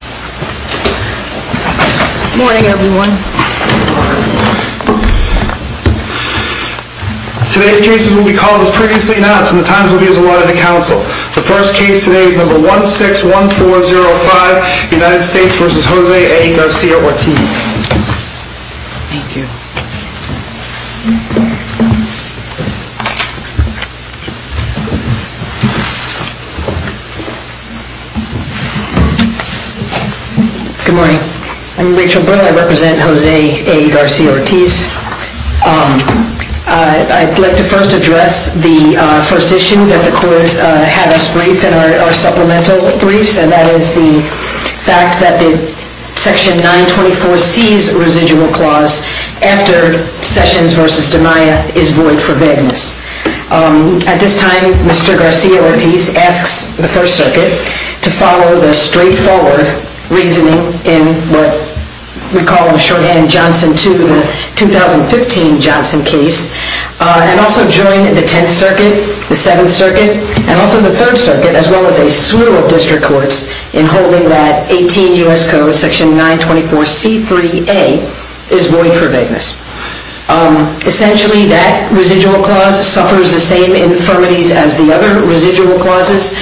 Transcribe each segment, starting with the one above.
Good morning everyone. Today's cases will be called as previously announced and the times will be as allotted to counsel. The first case today is number 161405 United States v. Jose A. Garcia-Ortiz. Thank you. Good morning. I'm Rachel Brill. I represent Jose A. Garcia-Ortiz. I'd like to first address the first issue that the court had us brief in our supplemental briefs and that is the fact that Section 924C's residual clause after Sessions v. DiMaia is void for vagueness. At this time, Mr. Garcia-Ortiz asks the First Circuit to follow the straightforward reasoning in what we call in shorthand the 2015 Johnson case and also join the Tenth Circuit, the Seventh Circuit, and also the Third Circuit as well as a slew of district courts in holding that 18 U.S. Code Section 924C3A is void for vagueness. Essentially, that residual clause suffers the same infirmities as the other residual clauses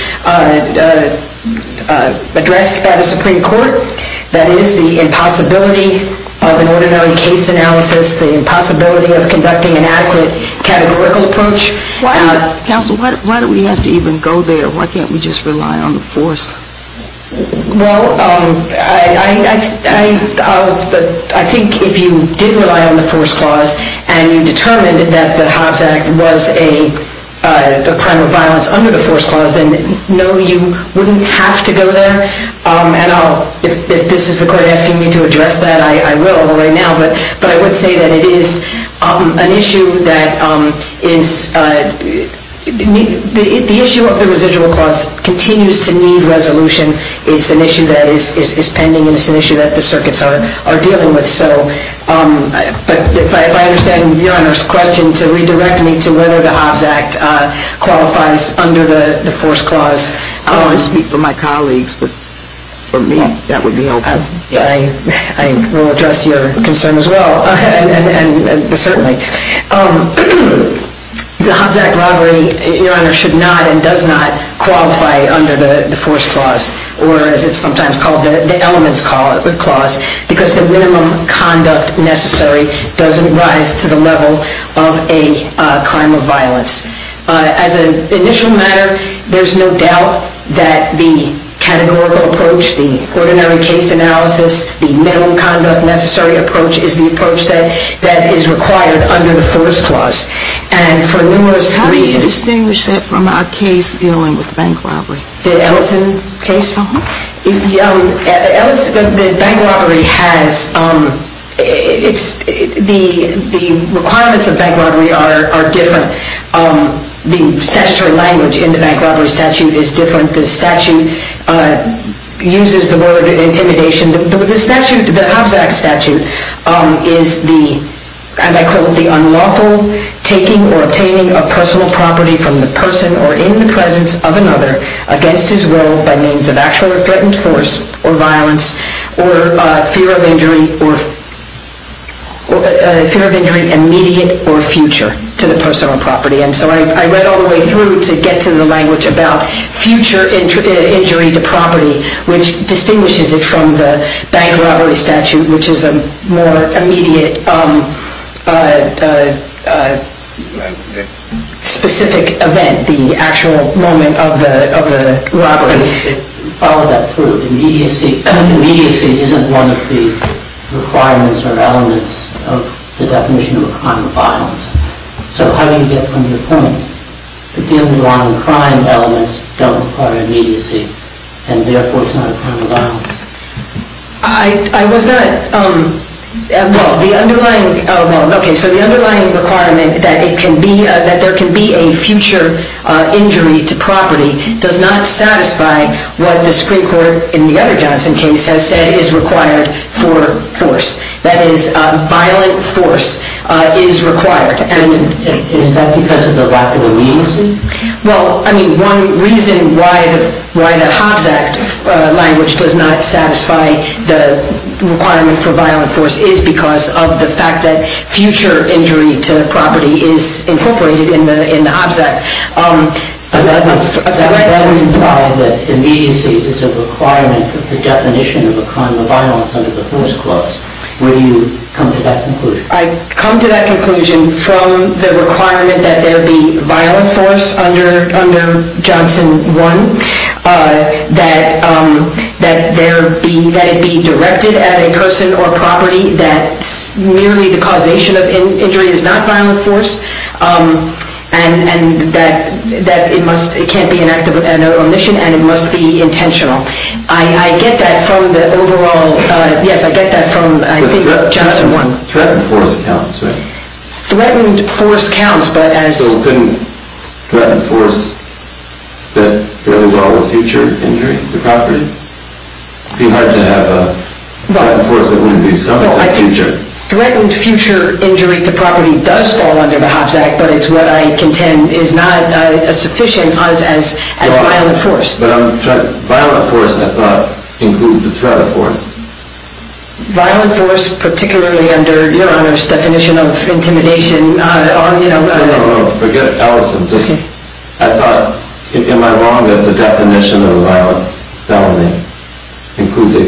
addressed by the Supreme Court. That is the impossibility of an ordinary case analysis, the impossibility of conducting an adequate categorical approach. Counsel, why do we have to even go there? Why can't we just rely on the force? Well, I think if you did rely on the force clause and you determined that the Hobbs Act was a crime of violence under the force clause then no, you wouldn't have to go there. And if this is the court asking me to address that, I will right now. But I would say that it is an issue that is, the issue of the residual clause continues to need resolution. It's an issue that is pending and it's an issue that the circuits are dealing with. But if I understand Your Honor's question to redirect me to whether the Hobbs Act qualifies under the force clause. I don't want to speak for my colleagues, but for me that would be helpful. I will address your concern as well, certainly. The Hobbs Act robbery, Your Honor, should not and does not qualify under the force clause or as it's sometimes called the elements clause because the minimum conduct necessary doesn't rise to the level of a crime of violence. As an initial matter, there's no doubt that the categorical approach, the ordinary case analysis, the minimum conduct necessary approach is the approach that is required under the force clause. How do you distinguish that from our case dealing with bank robbery? The bank robbery has, the requirements of bank robbery are different. The statutory language in the bank robbery statute is different. The statute uses the word intimidation. The Hobbs Act statute is the, and I quote, the unlawful taking or obtaining of personal property from the person or in the presence of another against his will by means of actual or threatened force or violence or fear of injury immediate or future to the person or property. And so I read all the way through to get to the language about future injury to property, which distinguishes it from the bank robbery statute, which is a more immediate specific event, the actual moment of the robbery. Follow that through. Immediacy isn't one of the requirements or elements of the definition of a crime of violence. So how do you get from the point that the underlying crime elements don't require immediacy and therefore it's not a crime of violence? I was not, well, the underlying, well, okay, so the underlying requirement that it can be, that there can be a future injury to property does not satisfy what the Supreme Court in the other Johnson case has said is required for force. That is, violent force is required. Is that because of the lack of immediacy? Well, I mean, one reason why the Hobbs Act language does not satisfy the requirement for violent force is because of the fact that future injury to property is incorporated in the Hobbs Act. Does that imply that immediacy is a requirement of the definition of a crime of violence under the force clause? Where do you come to that conclusion? I come to that conclusion from the requirement that there be violent force under Johnson 1, that it be directed at a person or property that merely the causation of injury is not violent force, and that it can't be an act of omission and it must be intentional. I get that from the overall, yes, I get that from Johnson 1. Threatened force counts, right? Threatened force counts, but as... So couldn't threatened force fit fairly well with future injury to property? It would be hard to have a threatened force that wouldn't be subject to future... Threatened future injury to property does fall under the Hobbs Act, but it's what I contend is not sufficient as violent force. But violent force, I thought, includes the threat of force. Violent force, particularly under Your Honor's definition of intimidation... No, no, no, forget Ellison. I thought, am I wrong that the definition of violent felony includes a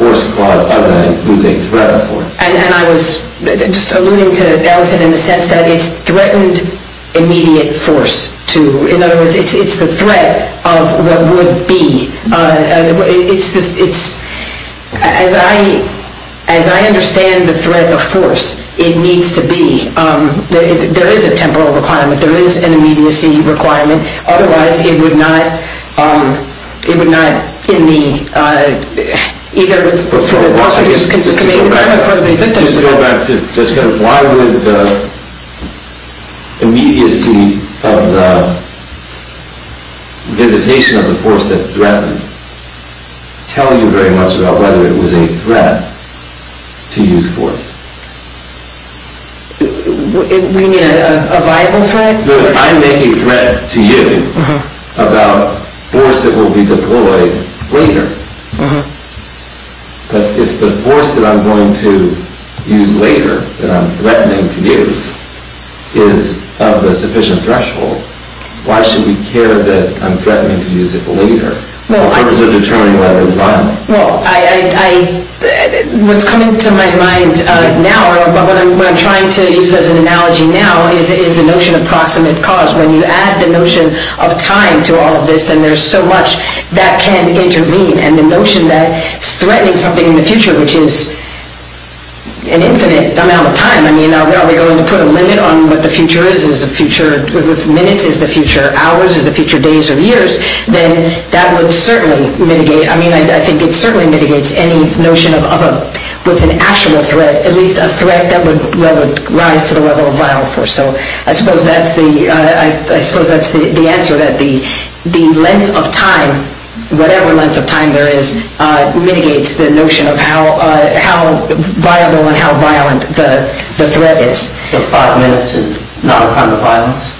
force clause other than it includes a threat of force? And I was just alluding to Ellison in the sense that it's threatened immediate force. In other words, it's the threat of what would be. As I understand the threat of force, it needs to be. There is a temporal requirement. There is an immediacy requirement. Otherwise, it would not, it would not in the, either... Just go back to, why would the immediacy of the visitation of the force that's threatened tell you very much about whether it was a threat to use force? You mean a viable threat? No, if I'm making threat to you about force that will be deployed later, but if the force that I'm going to use later that I'm threatening to use is of a sufficient threshold, why should we care that I'm threatening to use it later in terms of determining whether it's violent? Well, what's coming to my mind now, or what I'm trying to use as an analogy now, is the notion of proximate cause. When you add the notion of time to all of this, then there's so much that can intervene. And the notion that threatening something in the future, which is an infinite amount of time, I mean, are we going to put a limit on what the future is? Is the future minutes? Is the future hours? Is the future days or years? Then that would certainly mitigate, I mean, I think it certainly mitigates any notion of what's an actual threat, at least a threat that would rise to the level of violence. So I suppose that's the answer, that the length of time, whatever length of time there is, mitigates the notion of how viable and how violent the threat is. So five minutes is not a crime of violence?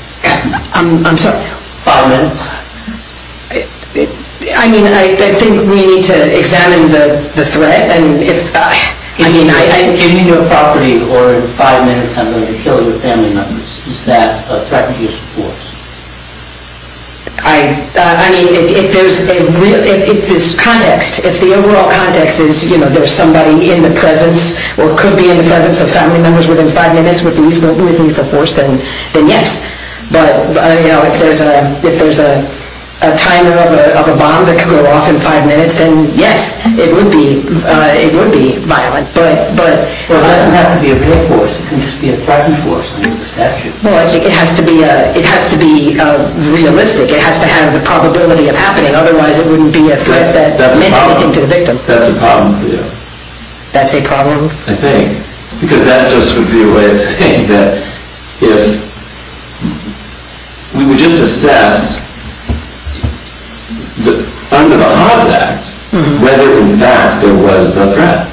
I'm sorry? Five minutes? Well, I mean, I think we need to examine the threat. If I get into a property, or in five minutes I'm going to kill your family members, is that a threatening use of force? I mean, if there's a real, if this context, if the overall context is, you know, there's somebody in the presence, or could be in the presence of family members within five minutes, would it be a use of force, then yes. But, you know, if there's a timer of a bomb that could go off in five minutes, then yes, it would be violent. But it doesn't have to be a threat force, it can just be a threaten force under the statute. Well, I think it has to be realistic. It has to have the probability of happening, otherwise it wouldn't be a threat that meant anything to the victim. That's a problem for you. That's a problem? I think. Because that just would be a way of saying that if we would just assess under the Hobbs Act whether in fact there was the threat,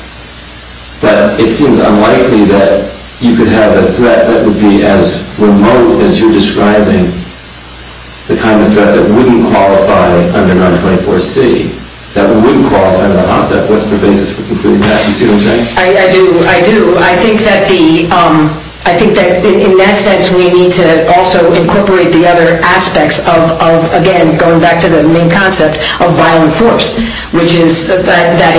that it seems unlikely that you could have a threat that would be as remote as you're describing, the kind of threat that wouldn't qualify under 924C, that wouldn't qualify under the Hobbs Act. What's the basis for concluding that? I do. I do. I think that the, I think that in that sense we need to also incorporate the other aspects of, again, going back to the main concept of violent force, which is that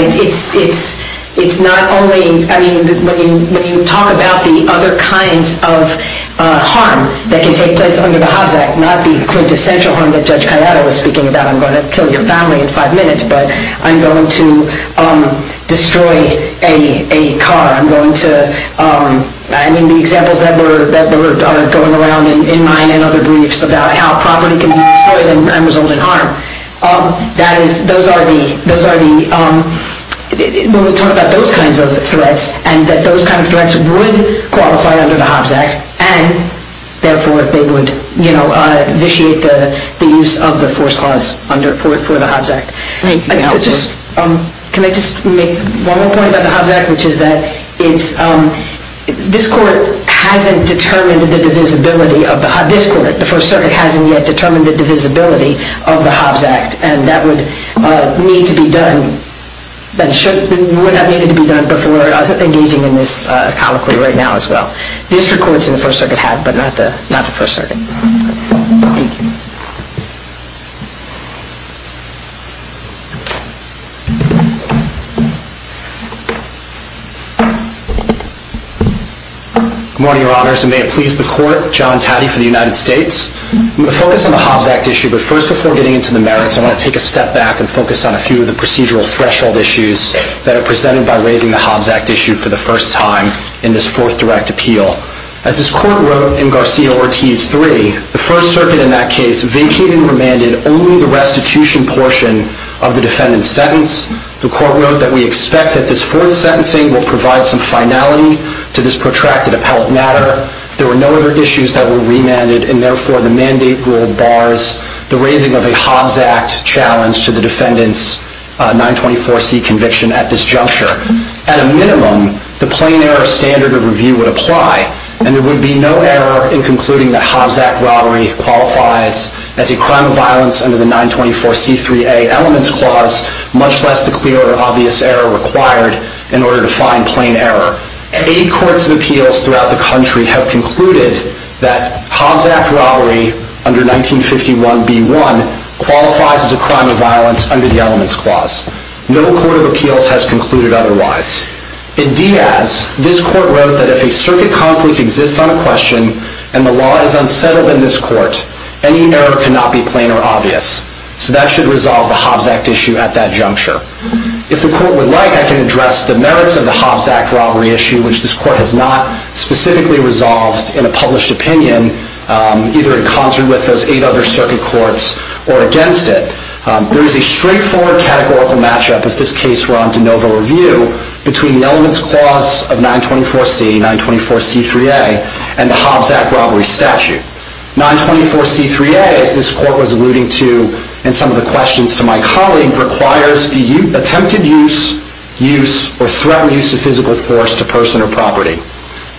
it's not only, I mean, when you talk about the other kinds of harm that can take place under the Hobbs Act, not the quintessential harm that Judge Cayetano was speaking about, I'm going to kill your family in five minutes, but I'm going to destroy a car. I'm going to, I mean, the examples that were going around in mine and other briefs about how property can be destroyed and result in harm. That is, those are the, when we talk about those kinds of threats and that those kinds of threats would qualify under the Hobbs Act and, therefore, they would, you know, vitiate the use of the force clause for the Hobbs Act. Can I just make one more point about the Hobbs Act, which is that it's, this court hasn't determined the divisibility of the, this court, the First Circuit hasn't yet determined the divisibility of the Hobbs Act and that would need to be done and should, would have needed to be done before engaging in this colloquy right now as well. District courts in the First Circuit have, but not the, not the First Circuit. Thank you. Good morning, Your Honors, and may it please the Court. John Taddy for the United States. I'm going to focus on the Hobbs Act issue, but first, before getting into the merits, I want to take a step back and focus on a few of the procedural threshold issues that are presented by raising the Hobbs Act issue for the first time in this fourth direct appeal. As this Court wrote in Garcia-Ortiz 3, the First Circuit in that case vacated and remanded only the restitution portion of the defendant's sentence. The Court wrote that we expect that this fourth sentencing will provide some finality to this protracted appellate matter. There were no other issues that were remanded and, therefore, the mandate rule bars the raising of a Hobbs Act challenge to the defendant's 924C conviction at this juncture. At a minimum, the plain error standard of review would apply, and there would be no error in concluding that Hobbs Act robbery qualifies as a crime of violence under the 924C3A elements clause, much less the clear or obvious error required in order to find plain error. Eight courts of appeals throughout the country have concluded that Hobbs Act robbery under 1951B1 qualifies as a crime of violence under the elements clause. No court of appeals has concluded otherwise. In Diaz, this Court wrote that if a circuit conflict exists on a question and the law is unsettled in this Court, any error cannot be plain or obvious. So that should resolve the Hobbs Act issue at that juncture. If the Court would like, I can address the merits of the Hobbs Act robbery issue, which this Court has not specifically resolved in a published opinion, either in concert with those eight other circuit courts or against it. There is a straightforward categorical matchup, if this case were on de novo review, between the elements clause of 924C, 924C3A, and the Hobbs Act robbery statute. 924C3A, as this Court was alluding to in some of the questions to my colleague, requires the attempted use or threatened use of physical force to person or property.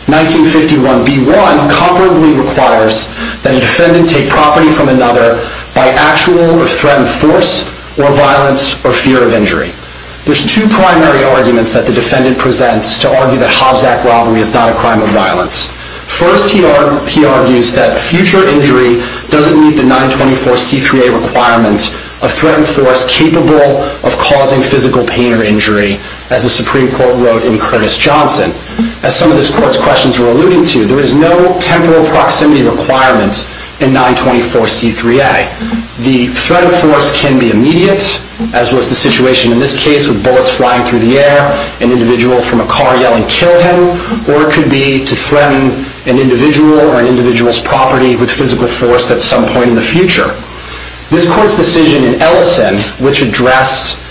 1951B1 comparably requires that a defendant take property from another by actual or threatened force or violence or fear of injury. There's two primary arguments that the defendant presents to argue that Hobbs Act robbery is not a crime of violence. First, he argues that future injury doesn't meet the 924C3A requirement of threatened force capable of causing physical pain or injury, as the Supreme Court wrote in Curtis Johnson. As some of this Court's questions were alluding to, there is no temporal proximity requirement in 924C3A. The threat of force can be immediate, as was the situation in this case with bullets flying through the air, an individual from a car yelling, kill him, or it could be to threaten an individual or an individual's property with physical force at some point in the future. This Court's decision in Ellison, which addressed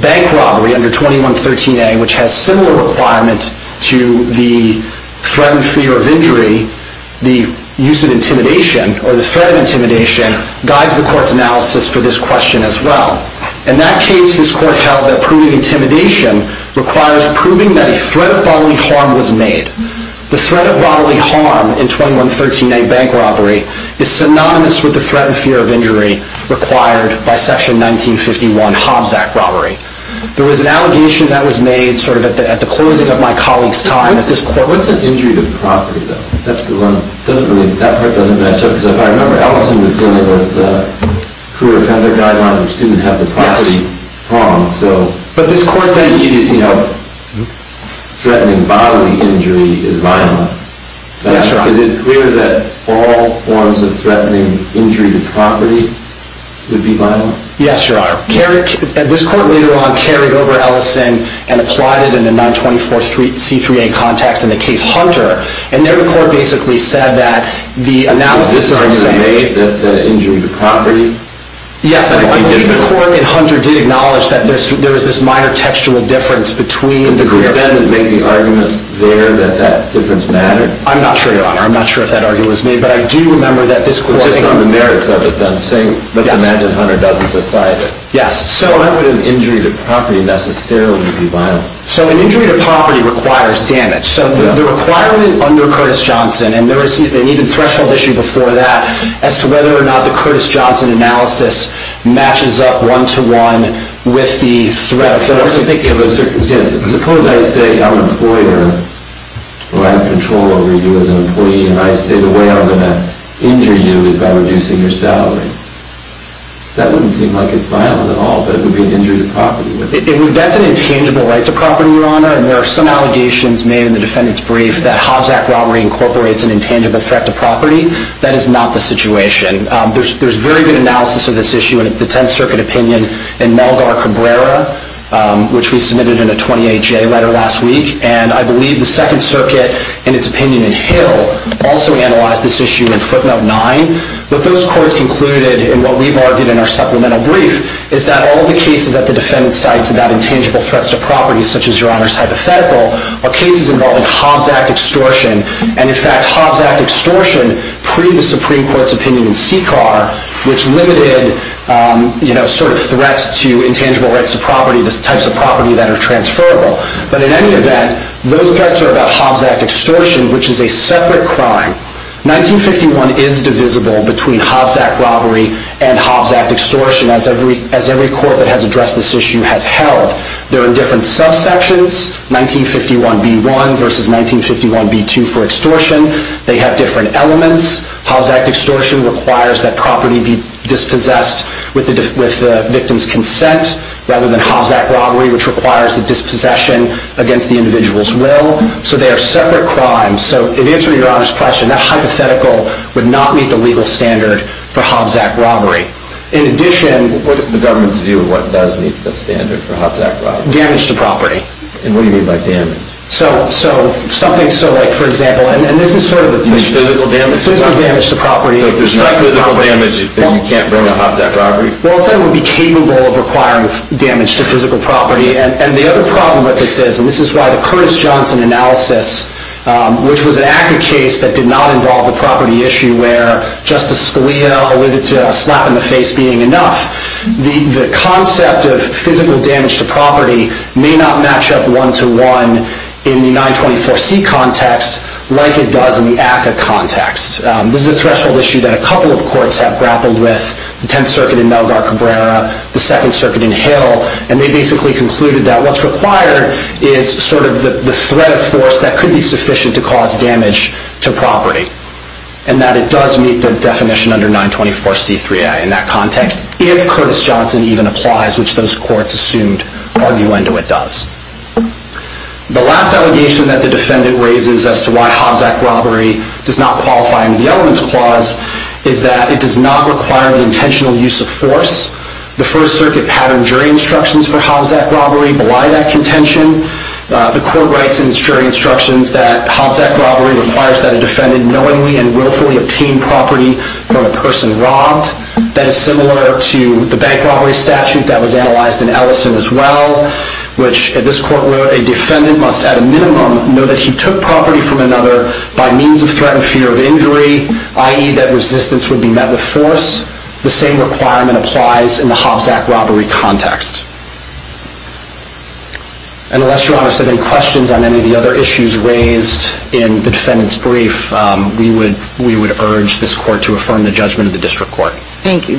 bank robbery under 2113A, which has similar requirements to the threatened fear of injury, the use of intimidation, or the threat of intimidation, guides the Court's analysis for this question as well. In that case, this Court held that proving intimidation requires proving that a threat of bodily harm was made. The threat of bodily harm in 2113A, bank robbery, is synonymous with the threatened fear of injury required by Section 1951, Hobbs Act robbery. There was an allegation that was made sort of at the closing of my colleague's time at this Court. What's an injury to property, though? That part doesn't match up. Because if I remember, Ellison was dealing with the crew who had their guidelines which didn't have the property wrong. But this Court then used, you know, threatening bodily injury is violent. That's right. Is it clear that all forms of threatening injury to property would be violent? Yes, Your Honor. This Court later on carried over Ellison and applied it in the 924C3A context in the case Hunter. And there the Court basically said that the analysis is the same. Was this argument made that injury to property? Yes. The Court in Hunter did acknowledge that there was this minor textual difference between the groups. Did the defendant make the argument there that that difference mattered? I'm not sure, Your Honor. I'm not sure if that argument was made. But I do remember that this Court It's just on the merits of it then. Let's imagine Hunter doesn't decide it. Yes. So how could an injury to property necessarily be violent? So an injury to property requires damage. So the requirement under Curtis Johnson, and there was an even threshold issue before that as to whether or not the Curtis Johnson analysis matches up one-to-one with the threat of force. Suppose I say I'm an employer, or I have control over you as an employee, and I say the way I'm going to injure you is by reducing your salary. That wouldn't seem like it's violent at all, but it would be an injury to property. That's an intangible right to property, Your Honor. And there are some allegations made in the defendant's brief that Hobbs Act robbery incorporates an intangible threat to property. That is not the situation. There's very good analysis of this issue in the Tenth Circuit opinion in Malgar Cabrera, which we submitted in a 28-J letter last week. And I believe the Second Circuit, in its opinion in Hill, also analyzed this issue in footnote 9. What those courts concluded, and what we've argued in our supplemental brief, is that all of the cases that the defendant cites about intangible threats to property, such as Your Honor's hypothetical, are cases involving Hobbs Act extortion. And, in fact, Hobbs Act extortion, pre the Supreme Court's opinion in CCAR, which limited sort of threats to intangible rights of property, the types of property that are transferable. But, in any event, those threats are about Hobbs Act extortion, which is a separate crime. 1951 is divisible between Hobbs Act robbery and Hobbs Act extortion, as every court that has addressed this issue has held. There are different subsections, 1951b1 versus 1951b2 for extortion. They have different elements. Hobbs Act extortion requires that property be dispossessed with the victim's consent, rather than Hobbs Act robbery, which requires a dispossession against the individual's will. So they are separate crimes. So, in answer to Your Honor's question, that hypothetical would not meet the legal standard for Hobbs Act robbery. In addition, What is the government's view of what does meet the standard for Hobbs Act robbery? Damage to property. And what do you mean by damage? So, something like, for example, You mean physical damage? Physical damage to property. So if there's no physical damage, then you can't bring up Hobbs Act robbery? Well, it would be capable of requiring damage to physical property. And the other problem with this is, and this is why the Curtis Johnson analysis, which was an ACCA case that did not involve the property issue, where Justice Scalia alluded to a slap in the face being enough, the concept of physical damage to property may not match up one to one in the 924C context like it does in the ACCA context. This is a threshold issue that a couple of courts have grappled with. The Tenth Circuit in Melgar Cabrera, the Second Circuit in Hill, and they basically concluded that what's required is sort of the threat of force that could be sufficient to cause damage to property. And that it does meet the definition under 924C3A in that context, if Curtis Johnson even applies, which those courts assumed arguendo it does. The last allegation that the defendant raises as to why Hobbs Act robbery does not qualify under the Elements Clause is that it does not require the intentional use of force. The First Circuit patterned jury instructions for Hobbs Act robbery belie that contention. The court writes in its jury instructions that Hobbs Act robbery requires that a defendant knowingly and willfully obtain property from a person robbed. That is similar to the bank robbery statute that was analyzed in Ellison as well, which this court wrote, a defendant must at a minimum know that he took property from another by means of threat and fear of injury, i.e. that resistance would be met with force. The same requirement applies in the Hobbs Act robbery context. And unless, Your Honor, there are any questions on any of the other issues raised in the defendant's brief, we would urge this court to affirm the judgment of the district court. Thank you.